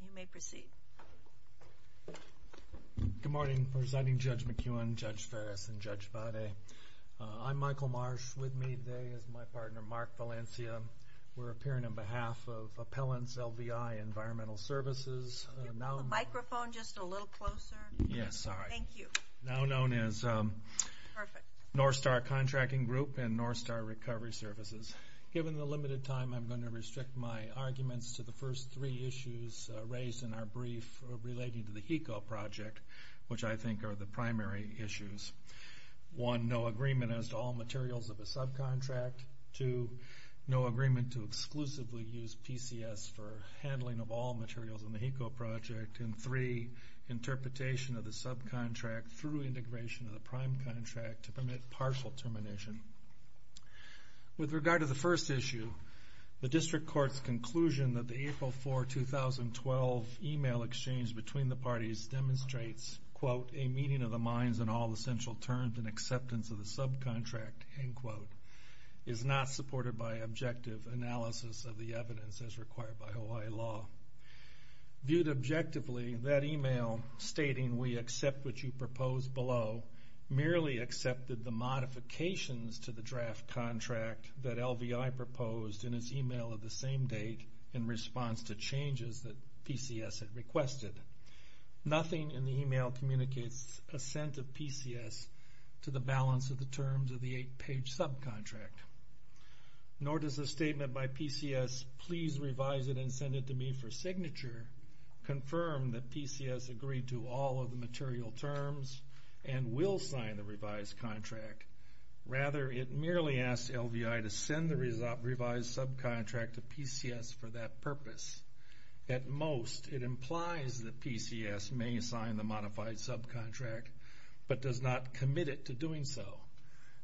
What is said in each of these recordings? You may proceed. Good morning, Presiding Judge McEwen, Judge Ferris, and Judge Vade. I'm Michael Marsh. With me today is my partner Mark Valencia. We're appearing on behalf of Microphone just a little closer. Yes, sorry. Thank you. Now known as North Star Contracting Group and North Star Recovery Services. Given the limited time, I'm going to restrict my arguments to the first three issues raised in our brief relating to the HECO project, which I think are the primary issues. One, no agreement as to all materials of a subcontract. Two, no agreement to exclusively use PCS for handling of all materials in the HECO project. And three, interpretation of the subcontract through integration of the prime contract to permit partial termination. With regard to the first issue, the district court's conclusion that the April 4, 2012 email exchange between the parties demonstrates, quote, a meeting of the minds and all essential terms and acceptance of the subcontract, end quote, is not supported by objective analysis of the evidence as required by Hawaii law. Viewed objectively, that email stating we accept what you propose below, merely accepted the modifications to the draft contract that LVI proposed in its email of the same date in response to changes that PCS had requested. Nothing in the email communicates assent of PCS to the balance of the terms of the eight page subcontract, nor does the statement by PCS, please revise it and send it to me for signature, confirm that PCS agreed to all of the material terms and will sign the revised contract. Rather, it merely asks LVI to send the revised subcontract to PCS for that purpose. At most, it implies that PCS may sign the modified subcontract, but does not commit it to doing so.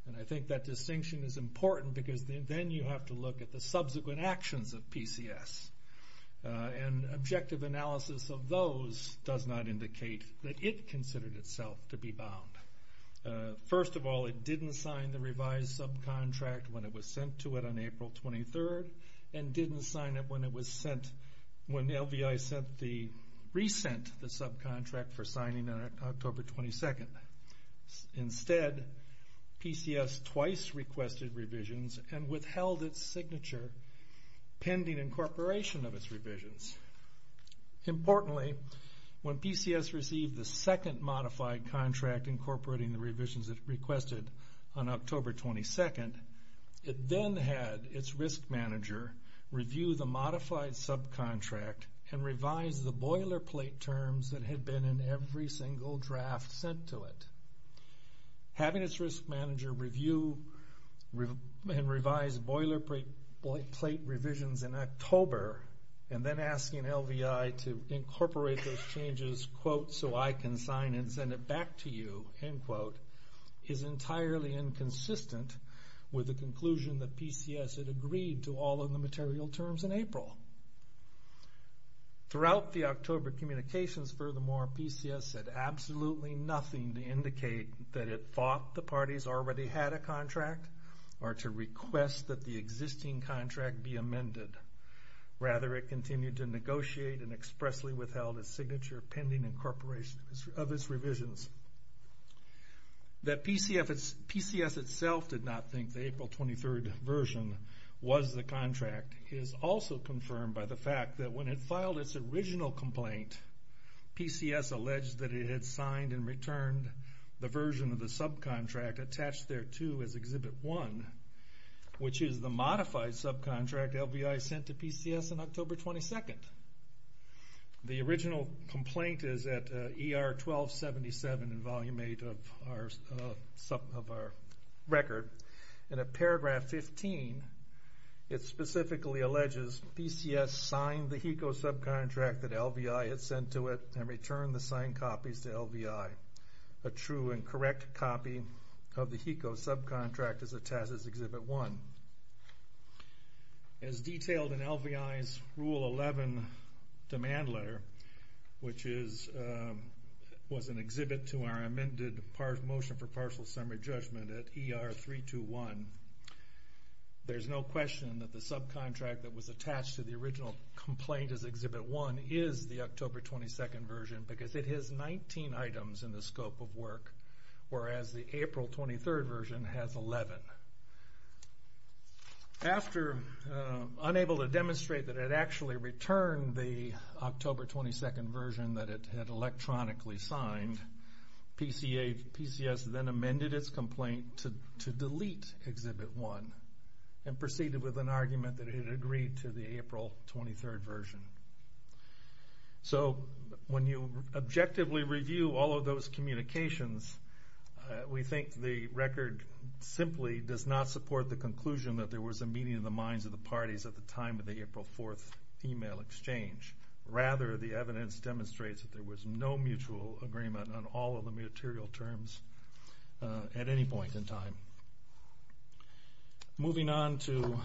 And I think that distinction is important because then you have to look at the subsequent actions of PCS. And objective analysis of those does not indicate that it considered itself to be bound. First of all, it didn't sign the revised subcontract when it was sent to it on April 23rd, and didn't sign it when LVI sent the, re-sent the subcontract for signing on October 22nd. Instead, PCS twice requested revisions and withheld its signature, pending incorporation of the revised subcontract to PCS. Importantly, when PCS received the second modified contract incorporating the revisions that it requested on October 22nd, it then had its risk manager review the modified subcontract and revise the boilerplate terms that had been in every single draft sent to it. Having its risk manager review and revise boilerplate revisions in October, and then asking LVI to incorporate those changes, quote, so I can sign and send it back to you, end quote, is entirely inconsistent with the conclusion that PCS had agreed to all of the material terms in April. Throughout the October communications, furthermore, PCS said absolutely nothing to indicate that it thought the parties already had a contract, or to request that the existing contract be amended. Rather, it continued to negotiate and expressly withheld its signature pending incorporation of its revisions. That PCS itself did not think the April 23rd version was the contract is also confirmed by the fact that when it filed its original complaint, PCS alleged that it had signed and returned the version of the subcontract attached there to as Exhibit 1, which is the modified subcontract LVI sent to PCS on October 22nd. The original complaint is at ER 1277 in Volume 8 of our record, and at paragraph 15, it specifically alleges PCS signed the HECO subcontract that LVI had sent to it and returned the signed copies to LVI. A true and correct copy of the HECO subcontract is attached as Exhibit 1. As detailed in LVI's Rule 11 demand letter, which was an exhibit to our amended Motion for Partial Summary Judgment at ER 321, there's no question that the subcontract that was attached to the original complaint as Exhibit 1 is the October 22nd version because it has 19 items in the scope of work, whereas the April 23rd version has 11. After unable to demonstrate that it had actually returned the October 22nd version that it had electronically signed, PCS then amended its complaint to delete Exhibit 1 and proceeded with an argument that it had agreed to the April 23rd version. So when you objectively review all of those communications, we think the record simply does not support the conclusion that there was a meeting of the minds of the parties at the time of the April 4th email exchange. Rather, the evidence demonstrates that there was no mutual agreement on all of the material terms at any point in time. Moving on to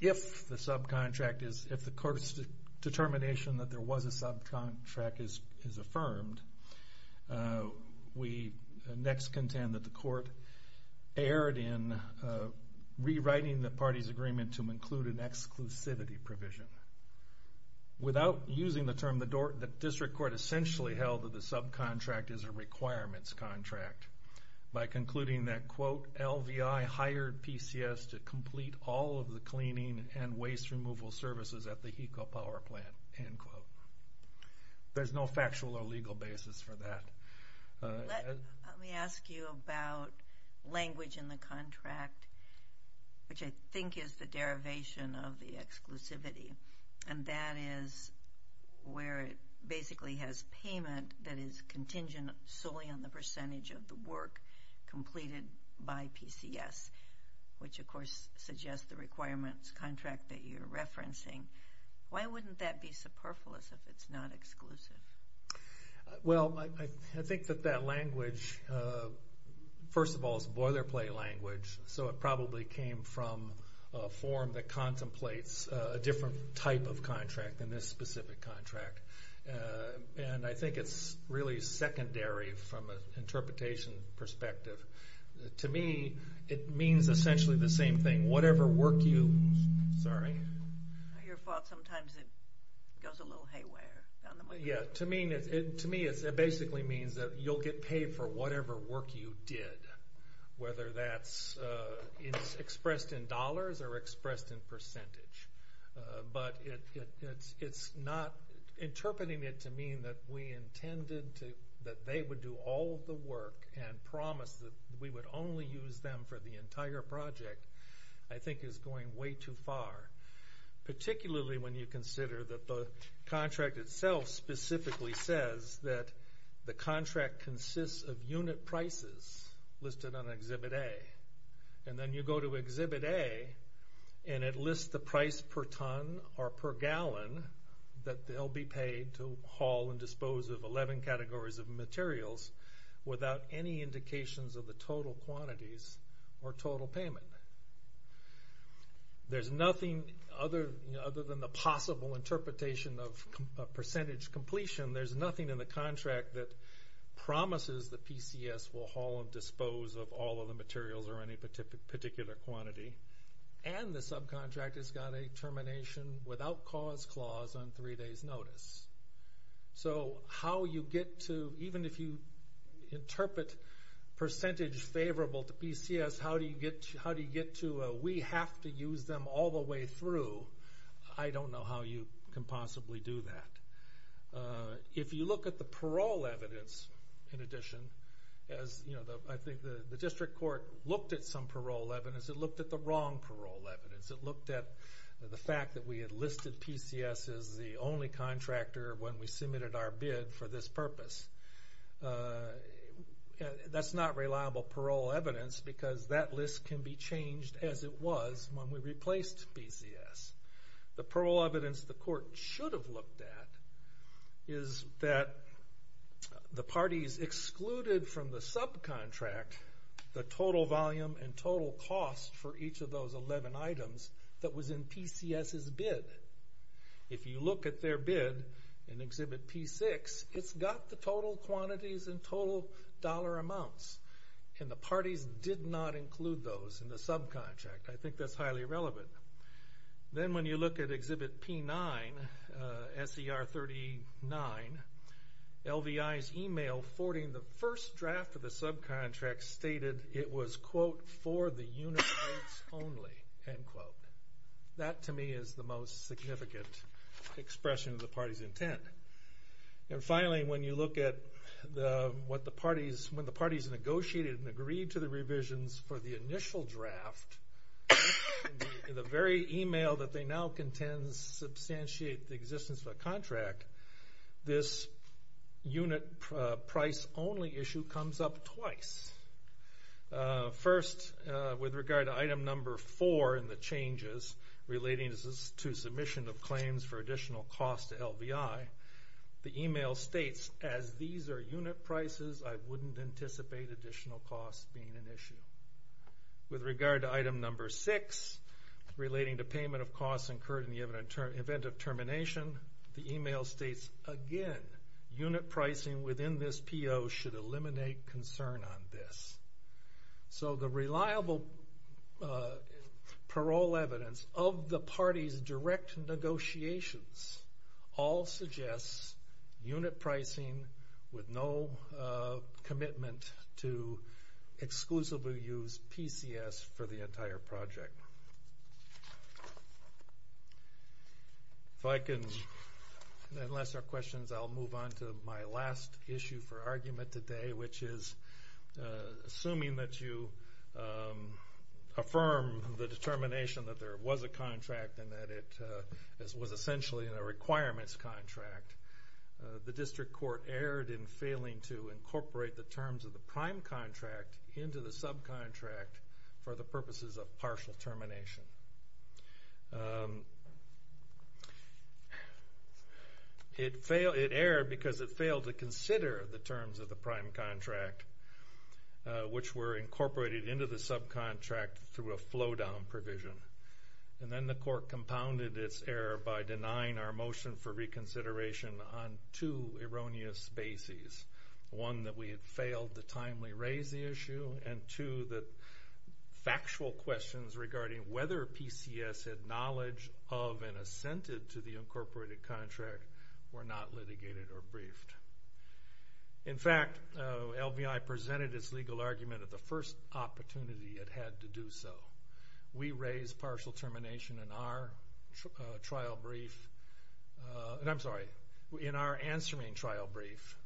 if the court's determination that there was a subcontract is affirmed, we next contend that the court erred in rewriting the party's agreement to include an exclusivity provision. Without using the term, the district court essentially held that the subcontract is a requirements contract by concluding that, quote, LVI hired PCS to complete all of the cleaning and waste removal services at the HECO power plant, end quote. There's no factual or legal basis for that. Let me ask you about language in the contract, which I think is the derivation of the exclusivity. And that is where it basically has payment that is contingent solely on the percentage of the work completed by PCS, which of course suggests the requirements contract that you're referencing. Why wouldn't that be superfluous if it's not exclusive? Well, I think that that language, first of all, is boilerplate language, so it probably came from a form that contemplates a different type of contract than this specific contract. And I think it's really secondary from an interpretation perspective. To me, it means essentially the same thing. Whatever work you, sorry. Your fault, sometimes it goes a little haywire. Yeah, to me it basically means that you'll get paid for whatever work you did, whether that's expressed in dollars or expressed in percentage. But it's not interpreting it to mean that we intended that they would do all the work and promise that we would only use them for the entire project, I think is going way too far. Particularly when you consider that the contract itself specifically says that the contract consists of unit prices listed on Exhibit A. And then you go to Exhibit A and it lists the price per ton or per gallon that they'll be paid to haul and dispose of 11 categories of materials without any indications of the total quantities or total payment. There's nothing other than the possible interpretation of percentage completion. There's nothing in the contract that promises that PCS will haul and dispose of all of the materials or any particular quantity. And the subcontract has got a termination without cause clause on three days' notice. So how you get to, even if you interpret percentage favorable to PCS, how do you get to, we have to use them all the way through, I don't know how you can possibly do that. If you look at the parole evidence, in addition, as I think the district court looked at some parole evidence, it looked at the wrong parole evidence. It looked at the fact that we had listed PCS as the only contractor when we submitted our bid for this purpose. That's not reliable parole evidence because that list can be changed as it was when we replaced PCS. The parole evidence the court should have looked at is that the parties excluded from the subcontract the total volume and total cost for each of those 11 items that was in PCS's bid. If you look at their bid in Exhibit P6, it's got the total quantities and total dollar amounts, and the parties did not include those in the subcontract. I think that's highly irrelevant. Then when you look at Exhibit P9, SER 39, LVI's email forwarding the first draft of the subcontract stated it was, quote, for the unit rates only, end quote. That, to me, is the most significant expression of the party's intent. Finally, when you look at when the parties negotiated and agreed to the revisions for the initial draft, in the very email that they now contend substantiate the existence of a contract, this unit price only issue comes up twice. First, with regard to item number four in the changes relating to submission of claims for additional cost to LVI, the email states, as these are unit prices, I wouldn't anticipate additional costs being an issue. With regard to item number six, relating to payment of costs incurred in the event of termination, the email states, again, unit pricing within this PO should eliminate concern on this. So the reliable parole evidence of the parties' direct negotiations all suggests unit pricing with no commitment to exclusively use PCS for the entire project. If I can, unless there are questions, I'll move on to my last issue for argument today, which is, assuming that you affirm the determination that there was a contract and that it was essentially a requirements contract, the district court erred in failing to incorporate the terms of the prime contract into the subcontract for the purposes of partial termination. It erred because it failed to consider the terms of the prime contract, which were incorporated into the subcontract through a flow-down provision. And then the court compounded its error by denying our motion for reconsideration on two erroneous bases. One, that we had failed to timely raise the issue, and two, that factual questions regarding whether PCS had knowledge of and assented to the incorporated contract were not litigated or briefed. In fact, LVI presented its legal argument at the first opportunity it had to do so. We raised partial termination in our answering trial brief,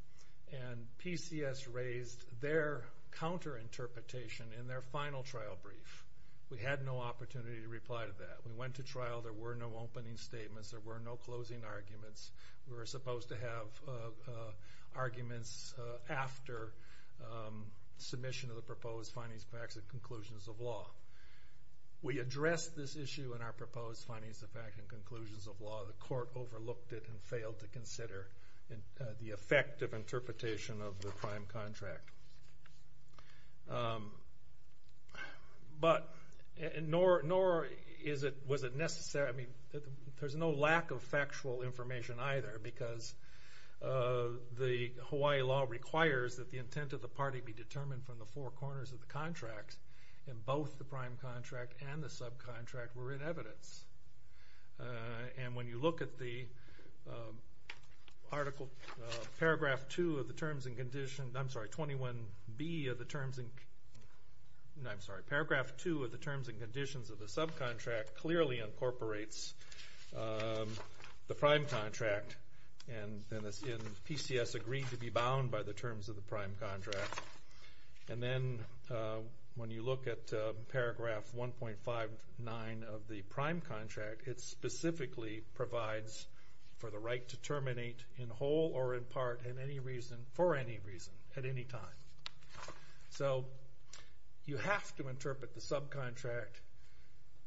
and PCS raised their counter-interpretation in their final trial brief. We had no opportunity to reply to that. We went to trial. There were no opening statements. There were no closing arguments. We were supposed to have arguments after submission of the proposed findings, facts, and conclusions of law. We addressed this issue in our proposed findings, facts, and conclusions of law. The court overlooked it and failed to consider the effective interpretation of the prime contract. But nor was it necessary. I mean, there's no lack of factual information either because the Hawaii law requires that the intent of the party be determined from the four corners of the contract. And both the prime contract and the subcontract were in evidence. And when you look at the paragraph 2 of the terms and conditions of the subcontract, clearly incorporates the prime contract. And PCS agreed to be bound by the terms of the prime contract. And then when you look at paragraph 1.59 of the prime contract, it specifically provides for the right to terminate in whole or in part for any reason at any time. So you have to interpret the subcontract.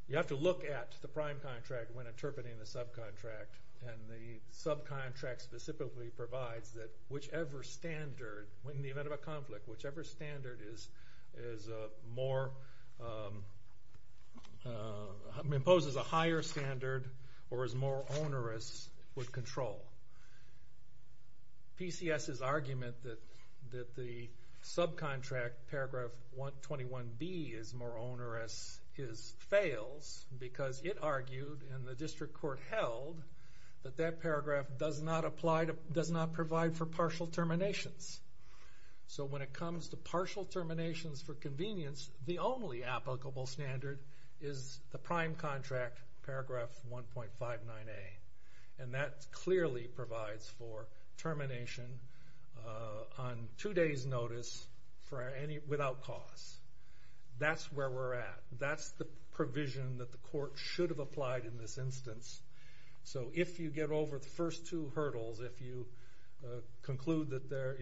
You have to look at the prime contract when interpreting the subcontract. And the subcontract specifically provides that whichever standard, in the event of a conflict, whichever standard is more, imposes a higher standard or is more onerous would control. PCS's argument that the subcontract, paragraph 121B, is more onerous fails because it argued, and the district court held, that that paragraph does not provide for partial terminations. So when it comes to partial terminations for convenience, the only applicable standard is the prime contract, paragraph 1.59A. And that clearly provides for termination on two days notice without cause. That's where we're at. That's the provision that the court should have applied in this instance. So if you get over the first two hurdles, if you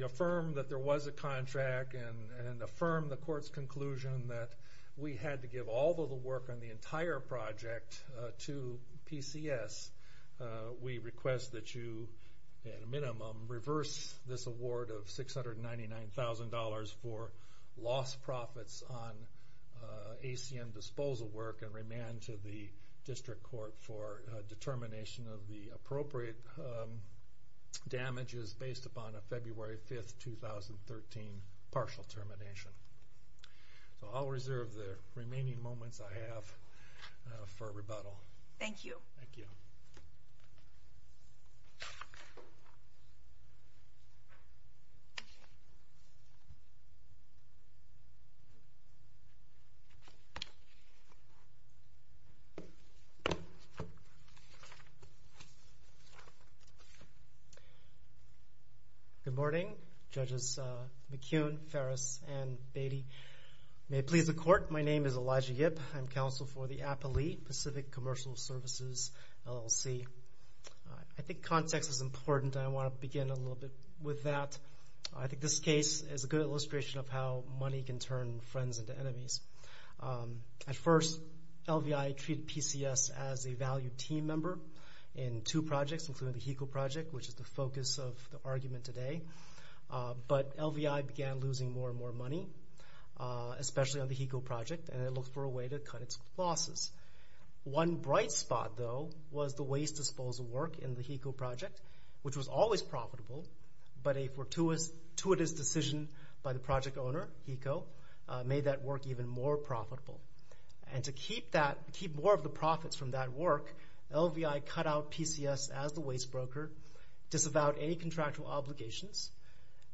affirm that there was a contract and affirm the court's conclusion that we had to give all of the work on the entire project to PCS, we request that you, at a minimum, reverse this award of $699,000 for lost profits on ACM disposal work and remand to the district court for determination of the appropriate damages based upon a February 5, 2013, partial termination. So I'll reserve the remaining moments I have for rebuttal. Thank you. Thank you. Good morning, Judges McCune, Ferris, and Beatty. May it please the court, my name is Elijah Yip. I'm counsel for the Appalachian Pacific Commercial Services, LLC. I think context is important, and I want to begin a little bit with that. I think this case is a good illustration of how money can turn friends into enemies. At first, LVI treated PCS as a valued team member in two projects, including the HECO project, which is the focus of the argument today. But LVI began losing more and more money, especially on the HECO project, and it looked for a way to cut its losses. One bright spot, though, was the waste disposal work in the HECO project, which was always profitable, but a fortuitous decision by the project owner, HECO, made that work even more profitable. And to keep more of the profits from that work, LVI cut out PCS as the waste broker, disavowed any contractual obligations,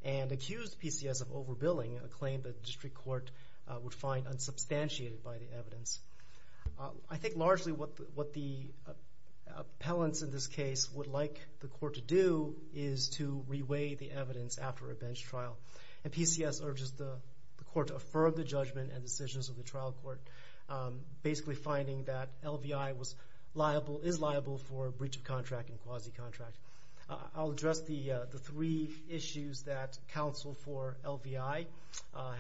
and accused PCS of overbilling, a claim that the district court would find unsubstantiated by the evidence. I think largely what the appellants in this case would like the court to do is to reweigh the evidence after a bench trial. And PCS urges the court to affirm the judgment and decisions of the trial court, basically finding that LVI is liable for breach of contract and quasi-contract. I'll address the three issues that counsel for LVI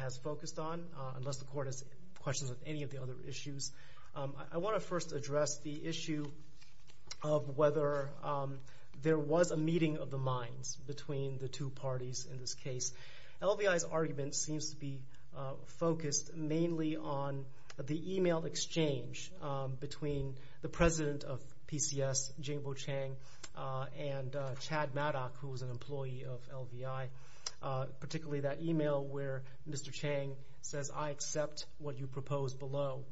has focused on, unless the court has questions of any of the other issues. I want to first address the issue of whether there was a meeting of the minds between the two parties in this case. LVI's argument seems to be focused mainly on the email exchange between the president of PCS, Jingbo Chang, and Chad Maddock, who was an employee of LVI, particularly that email where Mr. Chang says, I accept what you propose below.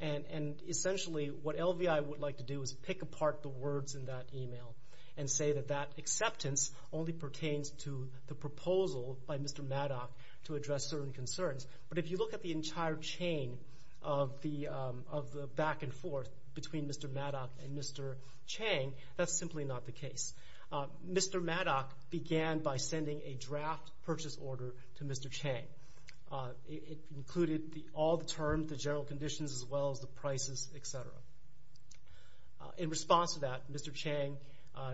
And essentially what LVI would like to do is pick apart the words in that email and say that that acceptance only pertains to the proposal by Mr. Maddock to address certain concerns. But if you look at the entire chain of the back and forth between Mr. Maddock and Mr. Chang, that's simply not the case. Mr. Maddock began by sending a draft purchase order to Mr. Chang. It included all the terms, the general conditions, as well as the prices, etc. In response to that, Mr. Chang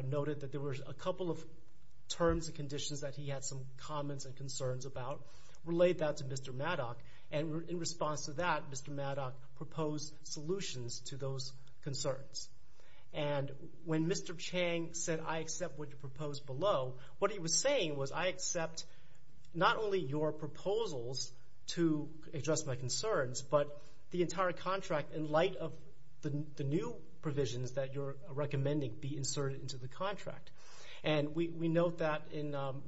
noted that there were a couple of terms and conditions that he had some comments and concerns about, relayed that to Mr. Maddock, and in response to that, Mr. Maddock proposed solutions to those concerns. And when Mr. Chang said, I accept what you propose below, what he was saying was, I accept not only your proposals to address my concerns, but the entire contract in light of the new provisions that you're recommending be inserted into the contract. And we note that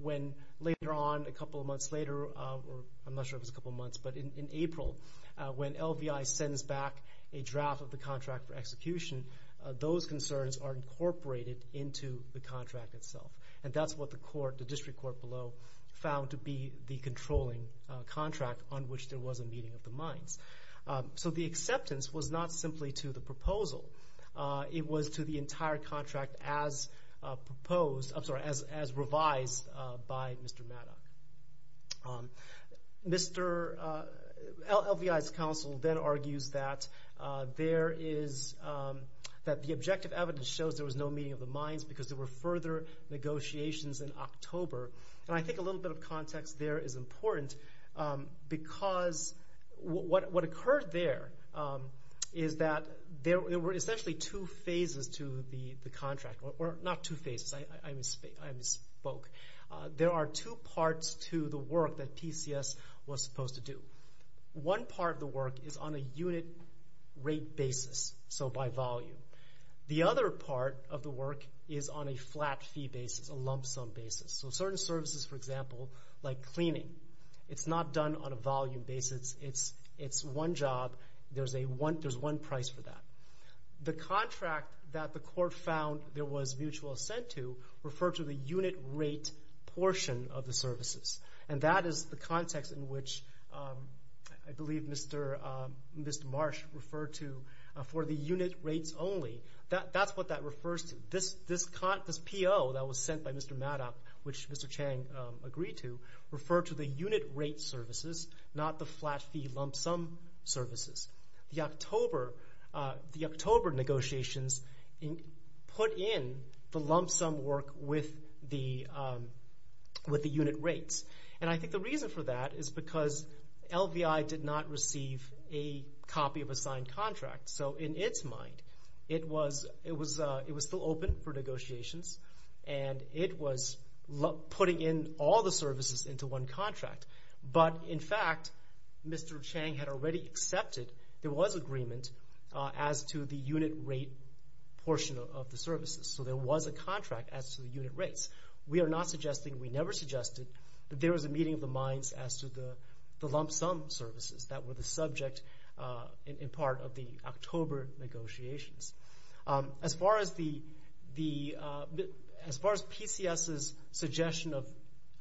when later on, a couple of months later, I'm not sure if it was a couple of months, but in April, when LVI sends back a draft of the contract for execution, those concerns are incorporated into the contract itself. And that's what the court, the district court below, found to be the controlling contract on which there was a meeting of the minds. So the acceptance was not simply to the proposal. It was to the entire contract as revised by Mr. Maddock. LVI's counsel then argues that the objective evidence shows there was no meeting of the minds because there were further negotiations in October. And I think a little bit of context there is important because what occurred there is that there were essentially two phases to the contract. Well, not two phases. I misspoke. There are two parts to the work that PCS was supposed to do. One part of the work is on a unit rate basis, so by volume. The other part of the work is on a flat fee basis, a lump sum basis. So certain services, for example, like cleaning, it's not done on a volume basis. It's one job. There's one price for that. The contract that the court found there was mutual assent to referred to the unit rate portion of the services. And that is the context in which I believe Mr. Marsh referred to for the unit rates only. That's what that refers to. This PO that was sent by Mr. Maddock, which Mr. Chang agreed to, referred to the unit rate services, not the flat fee lump sum services. The October negotiations put in the lump sum work with the unit rates. And I think the reason for that is because LVI did not receive a copy of a signed contract. So in its mind, it was still open for negotiations, and it was putting in all the services into one contract. But in fact, Mr. Chang had already accepted there was agreement as to the unit rate portion of the services. So there was a contract as to the unit rates. We are not suggesting, we never suggested that there was a meeting of the minds as to the lump sum services that were the subject and part of the October negotiations. As far as PCS's suggestion of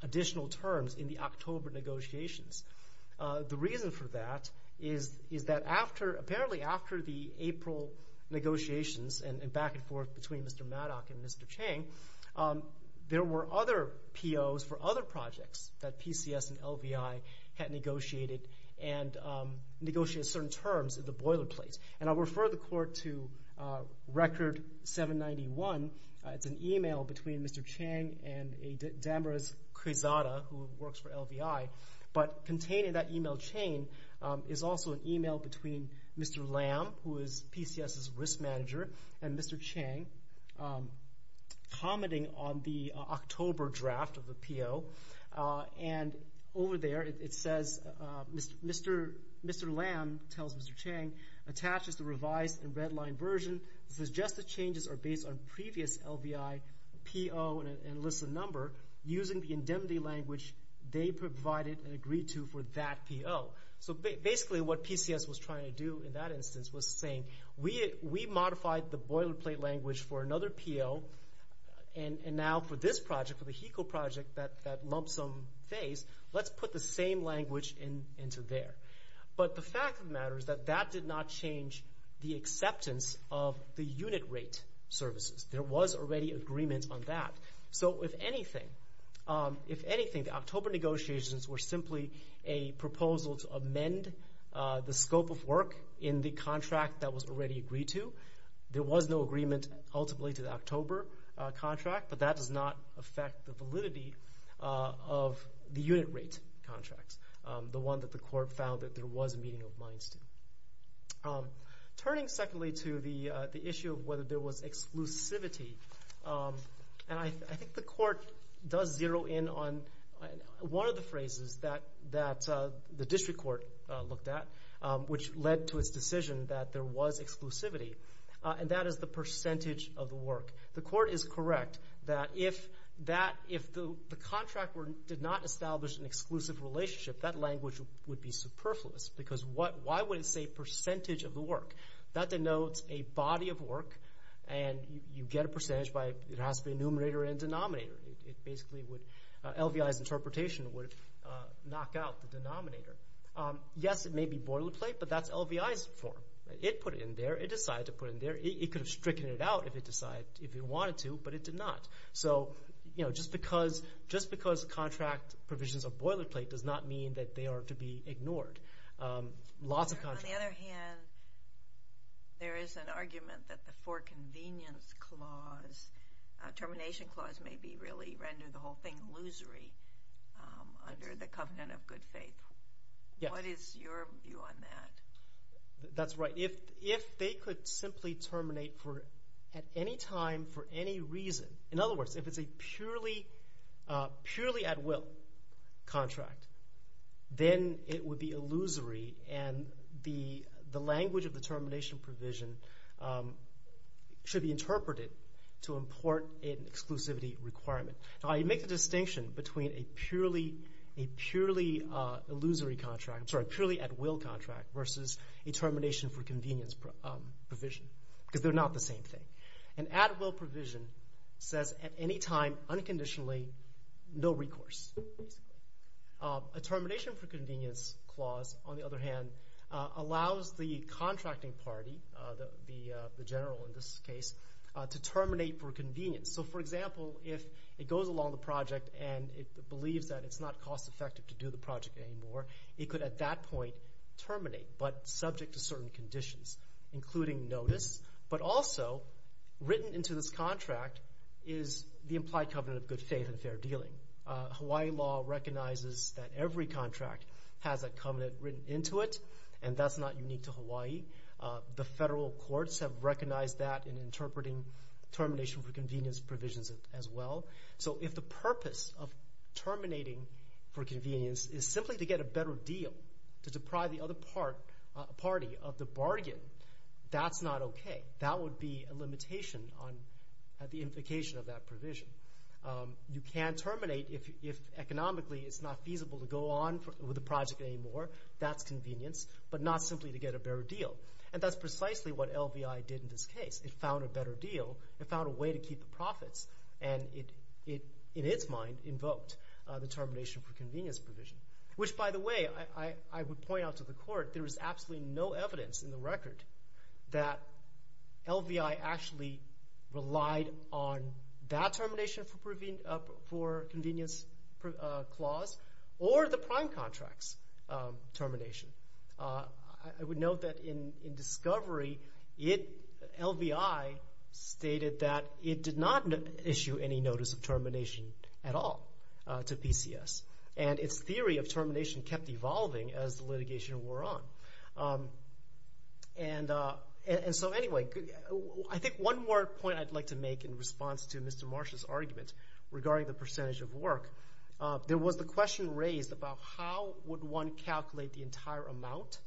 additional terms in the October negotiations, the reason for that is that apparently after the April negotiations and back and forth between Mr. Maddock and Mr. Chang, there were other POs for other projects that PCS and LVI had negotiated and negotiated certain terms at the boilerplate. And I'll refer the court to Record 791. It's an email between Mr. Chang and Damaris Krizada, who works for LVI, but contained in that email chain is also an email between Mr. Lam, who is PCS's risk manager, and Mr. Chang commenting on the October draft of the PO. And over there it says, Mr. Lam tells Mr. Chang, attaches the revised and redlined version, suggests the changes are based on previous LVI PO and lists the number, using the indemnity language they provided and agreed to for that PO. So basically what PCS was trying to do in that instance was saying, we modified the boilerplate language for another PO and now for this project, for the HECO project, that lump sum phase, let's put the same language into there. But the fact of the matter is that that did not change the acceptance of the unit rate services. There was already agreement on that. So if anything, the October negotiations were simply a proposal to amend the scope of work in the contract that was already agreed to. There was no agreement ultimately to the October contract, but that does not affect the validity of the unit rate contracts, the one that the court found that there was a meeting of minds to. Turning secondly to the issue of whether there was exclusivity, and I think the court does zero in on one of the phrases that the district court looked at, which led to its decision that there was exclusivity, and that is the percentage of the work. The court is correct that if the contract did not establish an exclusive relationship, that language would be superfluous, because why would it say percentage of the work? That denotes a body of work, and you get a percentage by – it has to be a numerator and denominator. It basically would – LVI's interpretation would knock out the denominator. Yes, it may be boilerplate, but that's LVI's form. It put it in there. It decided to put it in there. It could have stricken it out if it wanted to, but it did not. Just because contract provisions are boilerplate does not mean that they are to be ignored. On the other hand, there is an argument that the for convenience clause, termination clause, may be really rendered the whole thing illusory under the covenant of good faith. What is your view on that? That's right. If they could simply terminate at any time for any reason – in other words, if it's a purely at-will contract, then it would be illusory, and the language of the termination provision should be interpreted to import an exclusivity requirement. I make the distinction between a purely at-will contract versus a termination for convenience provision because they're not the same thing. An at-will provision says at any time, unconditionally, no recourse. A termination for convenience clause, on the other hand, allows the contracting party, the general in this case, to terminate for convenience. So, for example, if it goes along the project and it believes that it's not cost-effective to do the project anymore, it could at that point terminate, but subject to certain conditions, including notice. But also, written into this contract is the implied covenant of good faith and fair dealing. Hawaii law recognizes that every contract has a covenant written into it, and that's not unique to Hawaii. The federal courts have recognized that in interpreting termination for convenience provisions as well. So if the purpose of terminating for convenience is simply to get a better deal, to deprive the other party of the bargain, that's not okay. That would be a limitation on the implication of that provision. You can terminate if economically it's not feasible to go on with the project anymore. That's convenience, but not simply to get a better deal. And that's precisely what LVI did in this case. It found a better deal. It found a way to keep the profits. And it, in its mind, invoked the termination for convenience provision. Which, by the way, I would point out to the court, there is absolutely no evidence in the record that LVI actually relied on that termination for convenience clause, or the prime contract's termination. I would note that in discovery, LVI stated that it did not issue any notice of termination at all to PCS. And its theory of termination kept evolving as the litigation wore on. And so anyway, I think one more point I'd like to make in response to Mr. Marsh's argument regarding the percentage of work. There was the question raised about how would one calculate the entire amount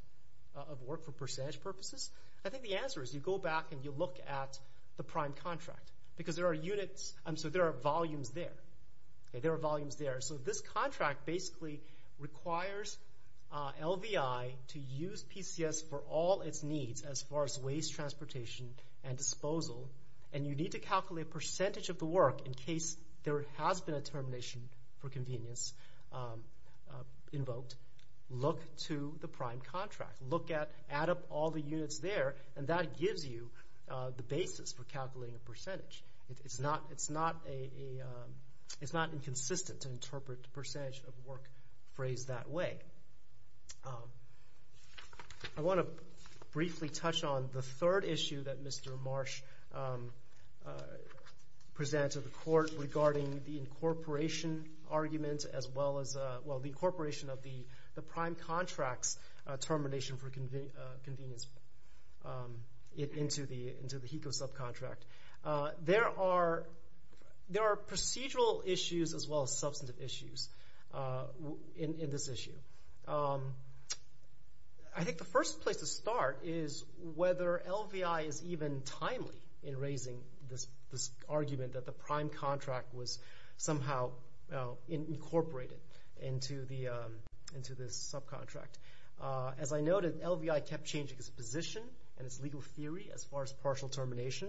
of work for percentage purposes. I think the answer is you go back and you look at the prime contract. Because there are units, so there are volumes there. There are volumes there. So this contract basically requires LVI to use PCS for all its needs as far as waste transportation and disposal. And you need to calculate percentage of the work in case there has been a termination for convenience invoked. Look to the prime contract. Look at, add up all the units there, and that gives you the basis for calculating percentage. It's not inconsistent to interpret percentage of work phrased that way. I want to briefly touch on the third issue that Mr. Marsh presented to the court regarding the incorporation argument as well as the incorporation of the prime contract's termination for convenience into the HECO subcontract. There are procedural issues as well as substantive issues in this issue. I think the first place to start is whether LVI is even timely in raising this argument that the prime contract was somehow incorporated into this subcontract. As I noted, LVI kept changing its position and its legal theory as far as partial termination.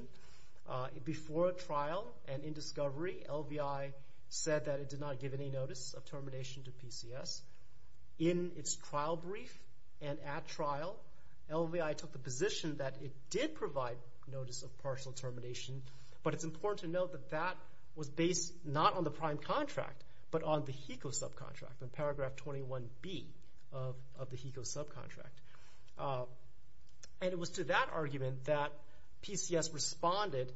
Before trial and in discovery, LVI said that it did not give any notice of termination to PCS. In its trial brief and at trial, LVI took the position that it did provide notice of partial termination, but it's important to note that that was based not on the prime contract, but on the HECO subcontract, on paragraph 21B of the HECO subcontract. It was to that argument that PCS responded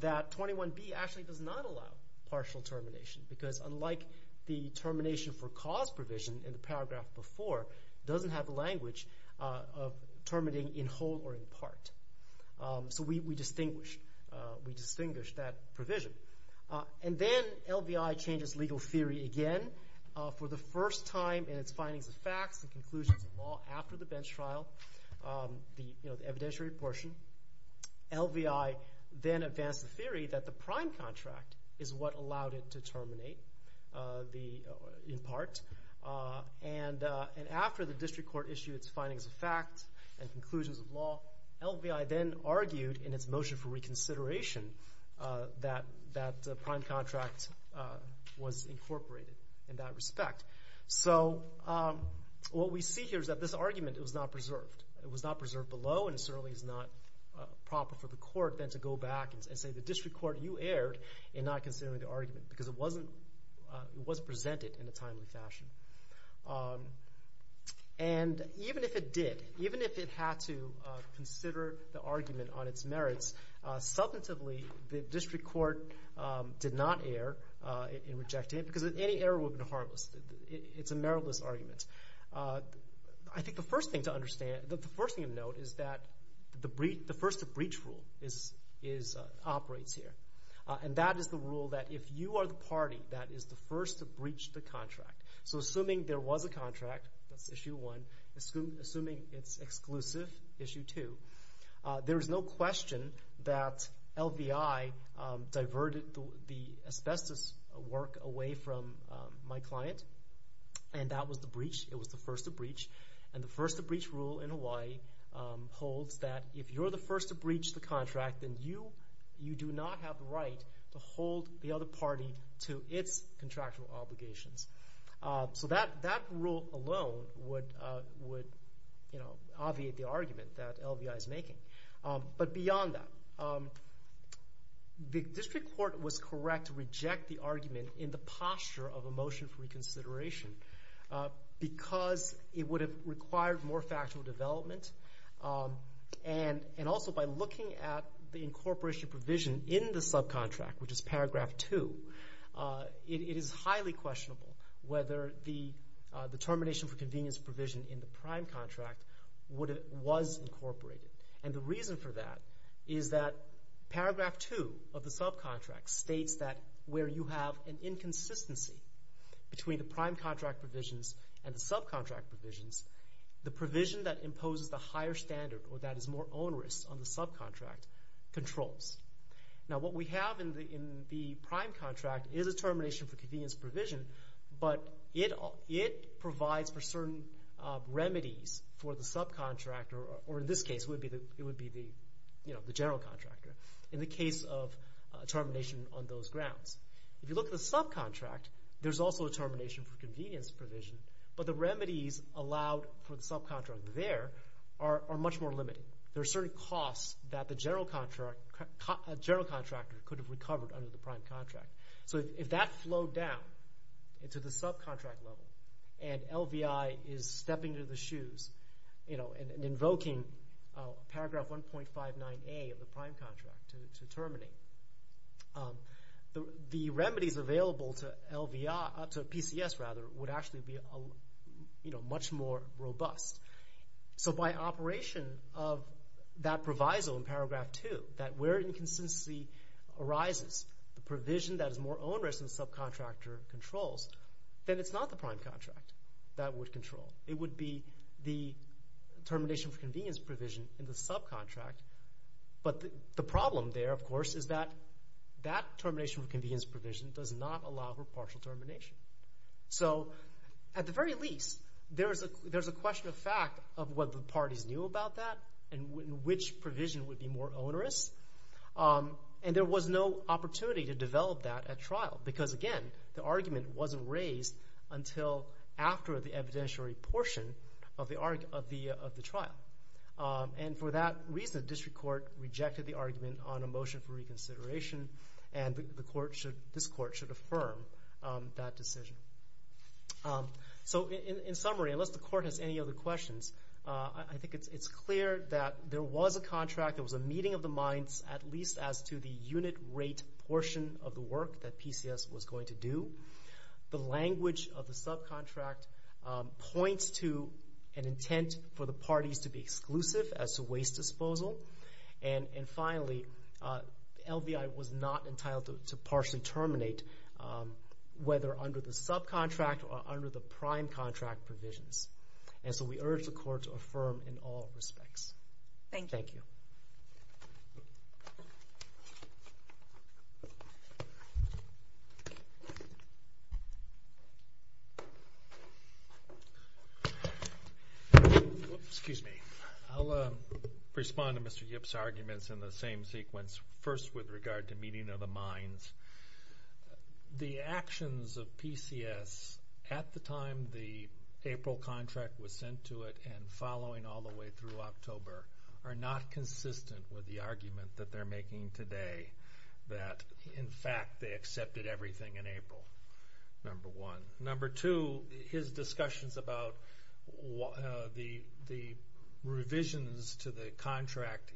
that 21B actually does not allow partial termination because unlike the termination for cause provision in the paragraph before, it doesn't have the language of terminating in whole or in part. We distinguish that provision. Then LVI changes legal theory again. For the first time in its findings of facts and conclusions of law after the bench trial, the evidentiary portion, LVI then advanced the theory that the prime contract is what allowed it to terminate in part. After the district court issued its findings of facts and conclusions of law, LVI then argued in its motion for reconsideration that the prime contract was incorporated in that respect. What we see here is that this argument was not preserved. It was not preserved below, and it certainly is not proper for the court then to go back and say the district court, you erred in not considering the argument because it was presented in a timely fashion. Even if it did, even if it had to consider the argument on its merits, substantively the district court did not err in rejecting it because any error would have been harmless. It's a meritless argument. I think the first thing to note is that the first to breach rule operates here. That is the rule that if you are the party that is the first to breach the contract, so assuming there was a contract, that's issue one. Assuming it's exclusive, issue two. There is no question that LVI diverted the asbestos work away from my client, and that was the breach. It was the first to breach. The first to breach rule in Hawaii holds that if you're the first to breach the contract, then you do not have the right to hold the other party to its contractual obligations. So that rule alone would obviate the argument that LVI is making. But beyond that, the district court was correct to reject the argument in the posture of a motion for reconsideration because it would have required more factual development. And also by looking at the incorporation provision in the subcontract, which is paragraph two, it is highly questionable whether the termination for convenience provision in the prime contract was incorporated. And the reason for that is that paragraph two of the subcontract states that where you have an inconsistency between the prime contract provisions and the subcontract provisions, the provision that imposes the higher standard or that is more onerous on the subcontract controls. Now what we have in the prime contract is a termination for convenience provision, but it provides for certain remedies for the subcontractor, or in this case it would be the general contractor, in the case of termination on those grounds. If you look at the subcontract, there's also a termination for convenience provision, but the remedies allowed for the subcontractor there are much more limited. There are certain costs that the general contractor could have recovered under the prime contract. So if that flowed down into the subcontract level and LVI is stepping into the shoes and invoking paragraph 1.59A of the prime contract to terminate, the remedies available to PCS would actually be much more robust. So by operation of that proviso in paragraph two, that where inconsistency arises, the provision that is more onerous than the subcontractor controls, then it's not the prime contract that would control. It would be the termination for convenience provision in the subcontract. But the problem there, of course, is that that termination for convenience provision does not allow for partial termination. So at the very least, there's a question of fact of what the parties knew about that and which provision would be more onerous, and there was no opportunity to develop that at trial because, again, the argument wasn't raised until after the evidentiary portion of the trial. And for that reason, the district court rejected the argument on a motion for reconsideration, and this court should affirm that decision. So in summary, unless the court has any other questions, I think it's clear that there was a contract, there was a meeting of the minds, at least as to the unit rate portion of the work that PCS was going to do. The language of the subcontract points to an intent for the parties to be exclusive as to waste disposal. And finally, LVI was not entitled to partially terminate, whether under the subcontract or under the prime contract provisions. And so we urge the court to affirm in all respects. Thank you. Thank you. Excuse me. I'll respond to Mr. Yip's arguments in the same sequence, first with regard to meeting of the minds. The actions of PCS at the time the April contract was sent to it and following all the way through October are not consistent with the argument that they're making today, that in fact they accepted everything in April, number one. Number two, his discussions about the revisions to the contract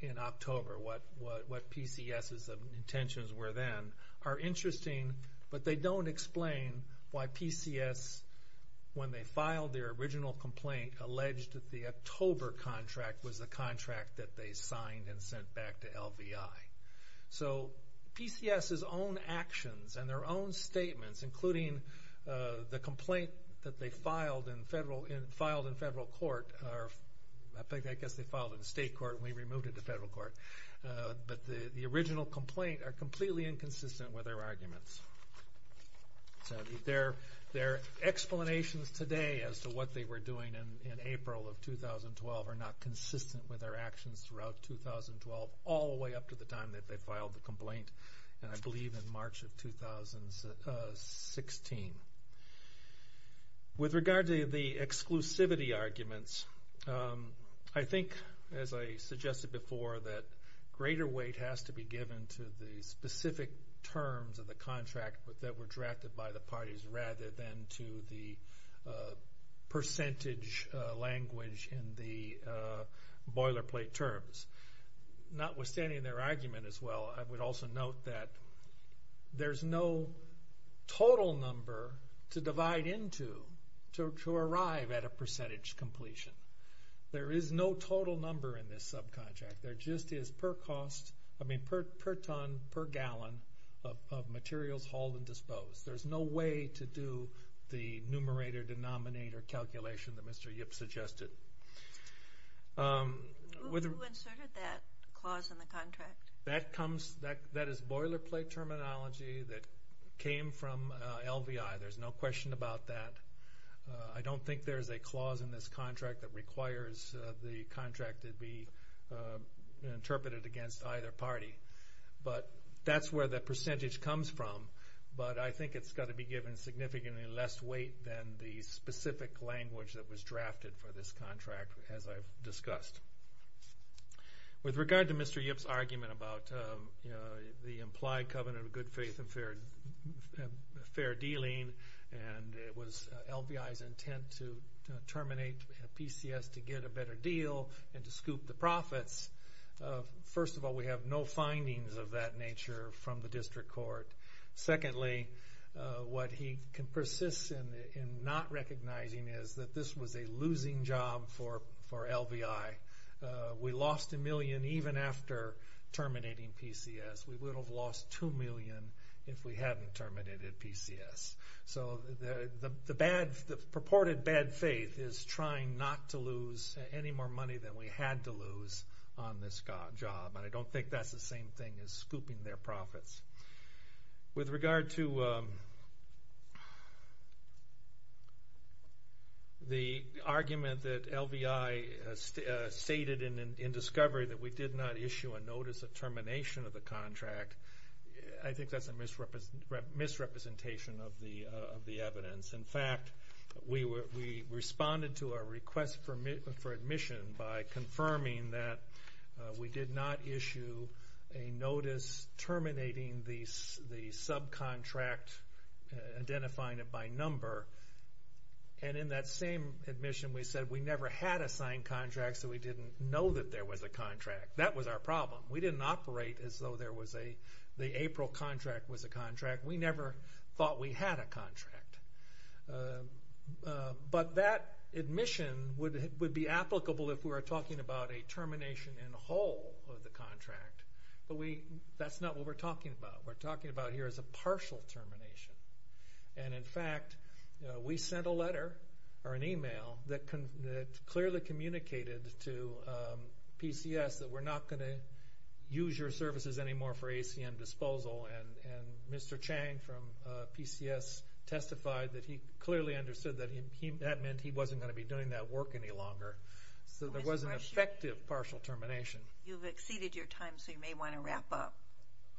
in October, what PCS's intentions were then, are interesting, but they don't explain why PCS, when they filed their original complaint, alleged that the October contract was the contract that they signed and sent back to LVI. So PCS's own actions and their own statements, including the complaint that they filed in federal court, I guess they filed in state court and we removed it to federal court, but the original complaint are completely inconsistent with their arguments. So their explanations today as to what they were doing in April of 2012 are not consistent with their actions throughout 2012, all the way up to the time that they filed the complaint, and I believe in March of 2016. With regard to the exclusivity arguments, I think, as I suggested before, that greater weight has to be given to the specific terms of the contract that were drafted by the parties, rather than to the percentage language in the boilerplate terms. Notwithstanding their argument as well, I would also note that there's no total number to divide into to arrive at a percentage completion. There is no total number in this subcontract. There just is per ton, per gallon of materials hauled and disposed. There's no way to do the numerator-denominator calculation that Mr. Yip suggested. Who inserted that clause in the contract? That is boilerplate terminology that came from LVI. There's no question about that. I don't think there's a clause in this contract that requires the contract to be interpreted against either party. But that's where the percentage comes from. But I think it's got to be given significantly less weight than the specific language that was drafted for this contract, as I've discussed. With regard to Mr. Yip's argument about the implied covenant of good faith and fair dealing, and LVI's intent to terminate PCS to get a better deal and to scoop the profits, first of all, we have no findings of that nature from the district court. Secondly, what he persists in not recognizing is that this was a losing job for LVI. We lost a million even after terminating PCS. We would have lost two million if we hadn't terminated PCS. So the purported bad faith is trying not to lose any more money than we had to lose on this job, and I don't think that's the same thing as scooping their profits. With regard to the argument that LVI stated in discovery that we did not issue a notice of termination of the contract, I think that's a misrepresentation of the evidence. In fact, we responded to a request for admission by confirming that we did not issue a notice terminating the subcontract, identifying it by number, and in that same admission we said we never had a signed contract so we didn't know that there was a contract. That was our problem. We didn't operate as though the April contract was a contract. We never thought we had a contract. But that admission would be applicable if we were talking about a termination in whole of the contract, but that's not what we're talking about. What we're talking about here is a partial termination. In fact, we sent a letter or an e-mail that clearly communicated to PCS that we're not going to use your services anymore for ACM disposal, and Mr. Chang from PCS testified that he clearly understood that that meant he wasn't going to be doing that work any longer, so there was an effective partial termination. You've exceeded your time, so you may want to wrap up.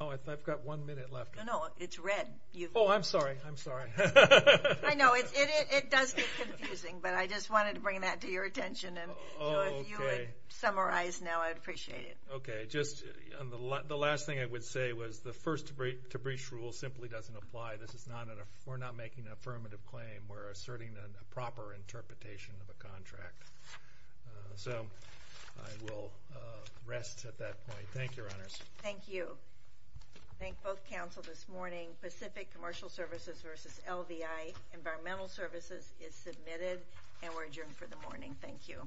Oh, I've got one minute left. No, no, it's red. Oh, I'm sorry. I'm sorry. I know. It does get confusing, but I just wanted to bring that to your attention. If you would summarize now, I'd appreciate it. Okay. The last thing I would say was the first to breach rule simply doesn't apply. We're not making an affirmative claim. We're asserting a proper interpretation of a contract. So I will rest at that point. Thank you, Your Honors. Thank you. I thank both counsel this morning. Pacific Commercial Services versus LVI Environmental Services is submitted, and we're adjourned for the morning. Thank you. Thank you.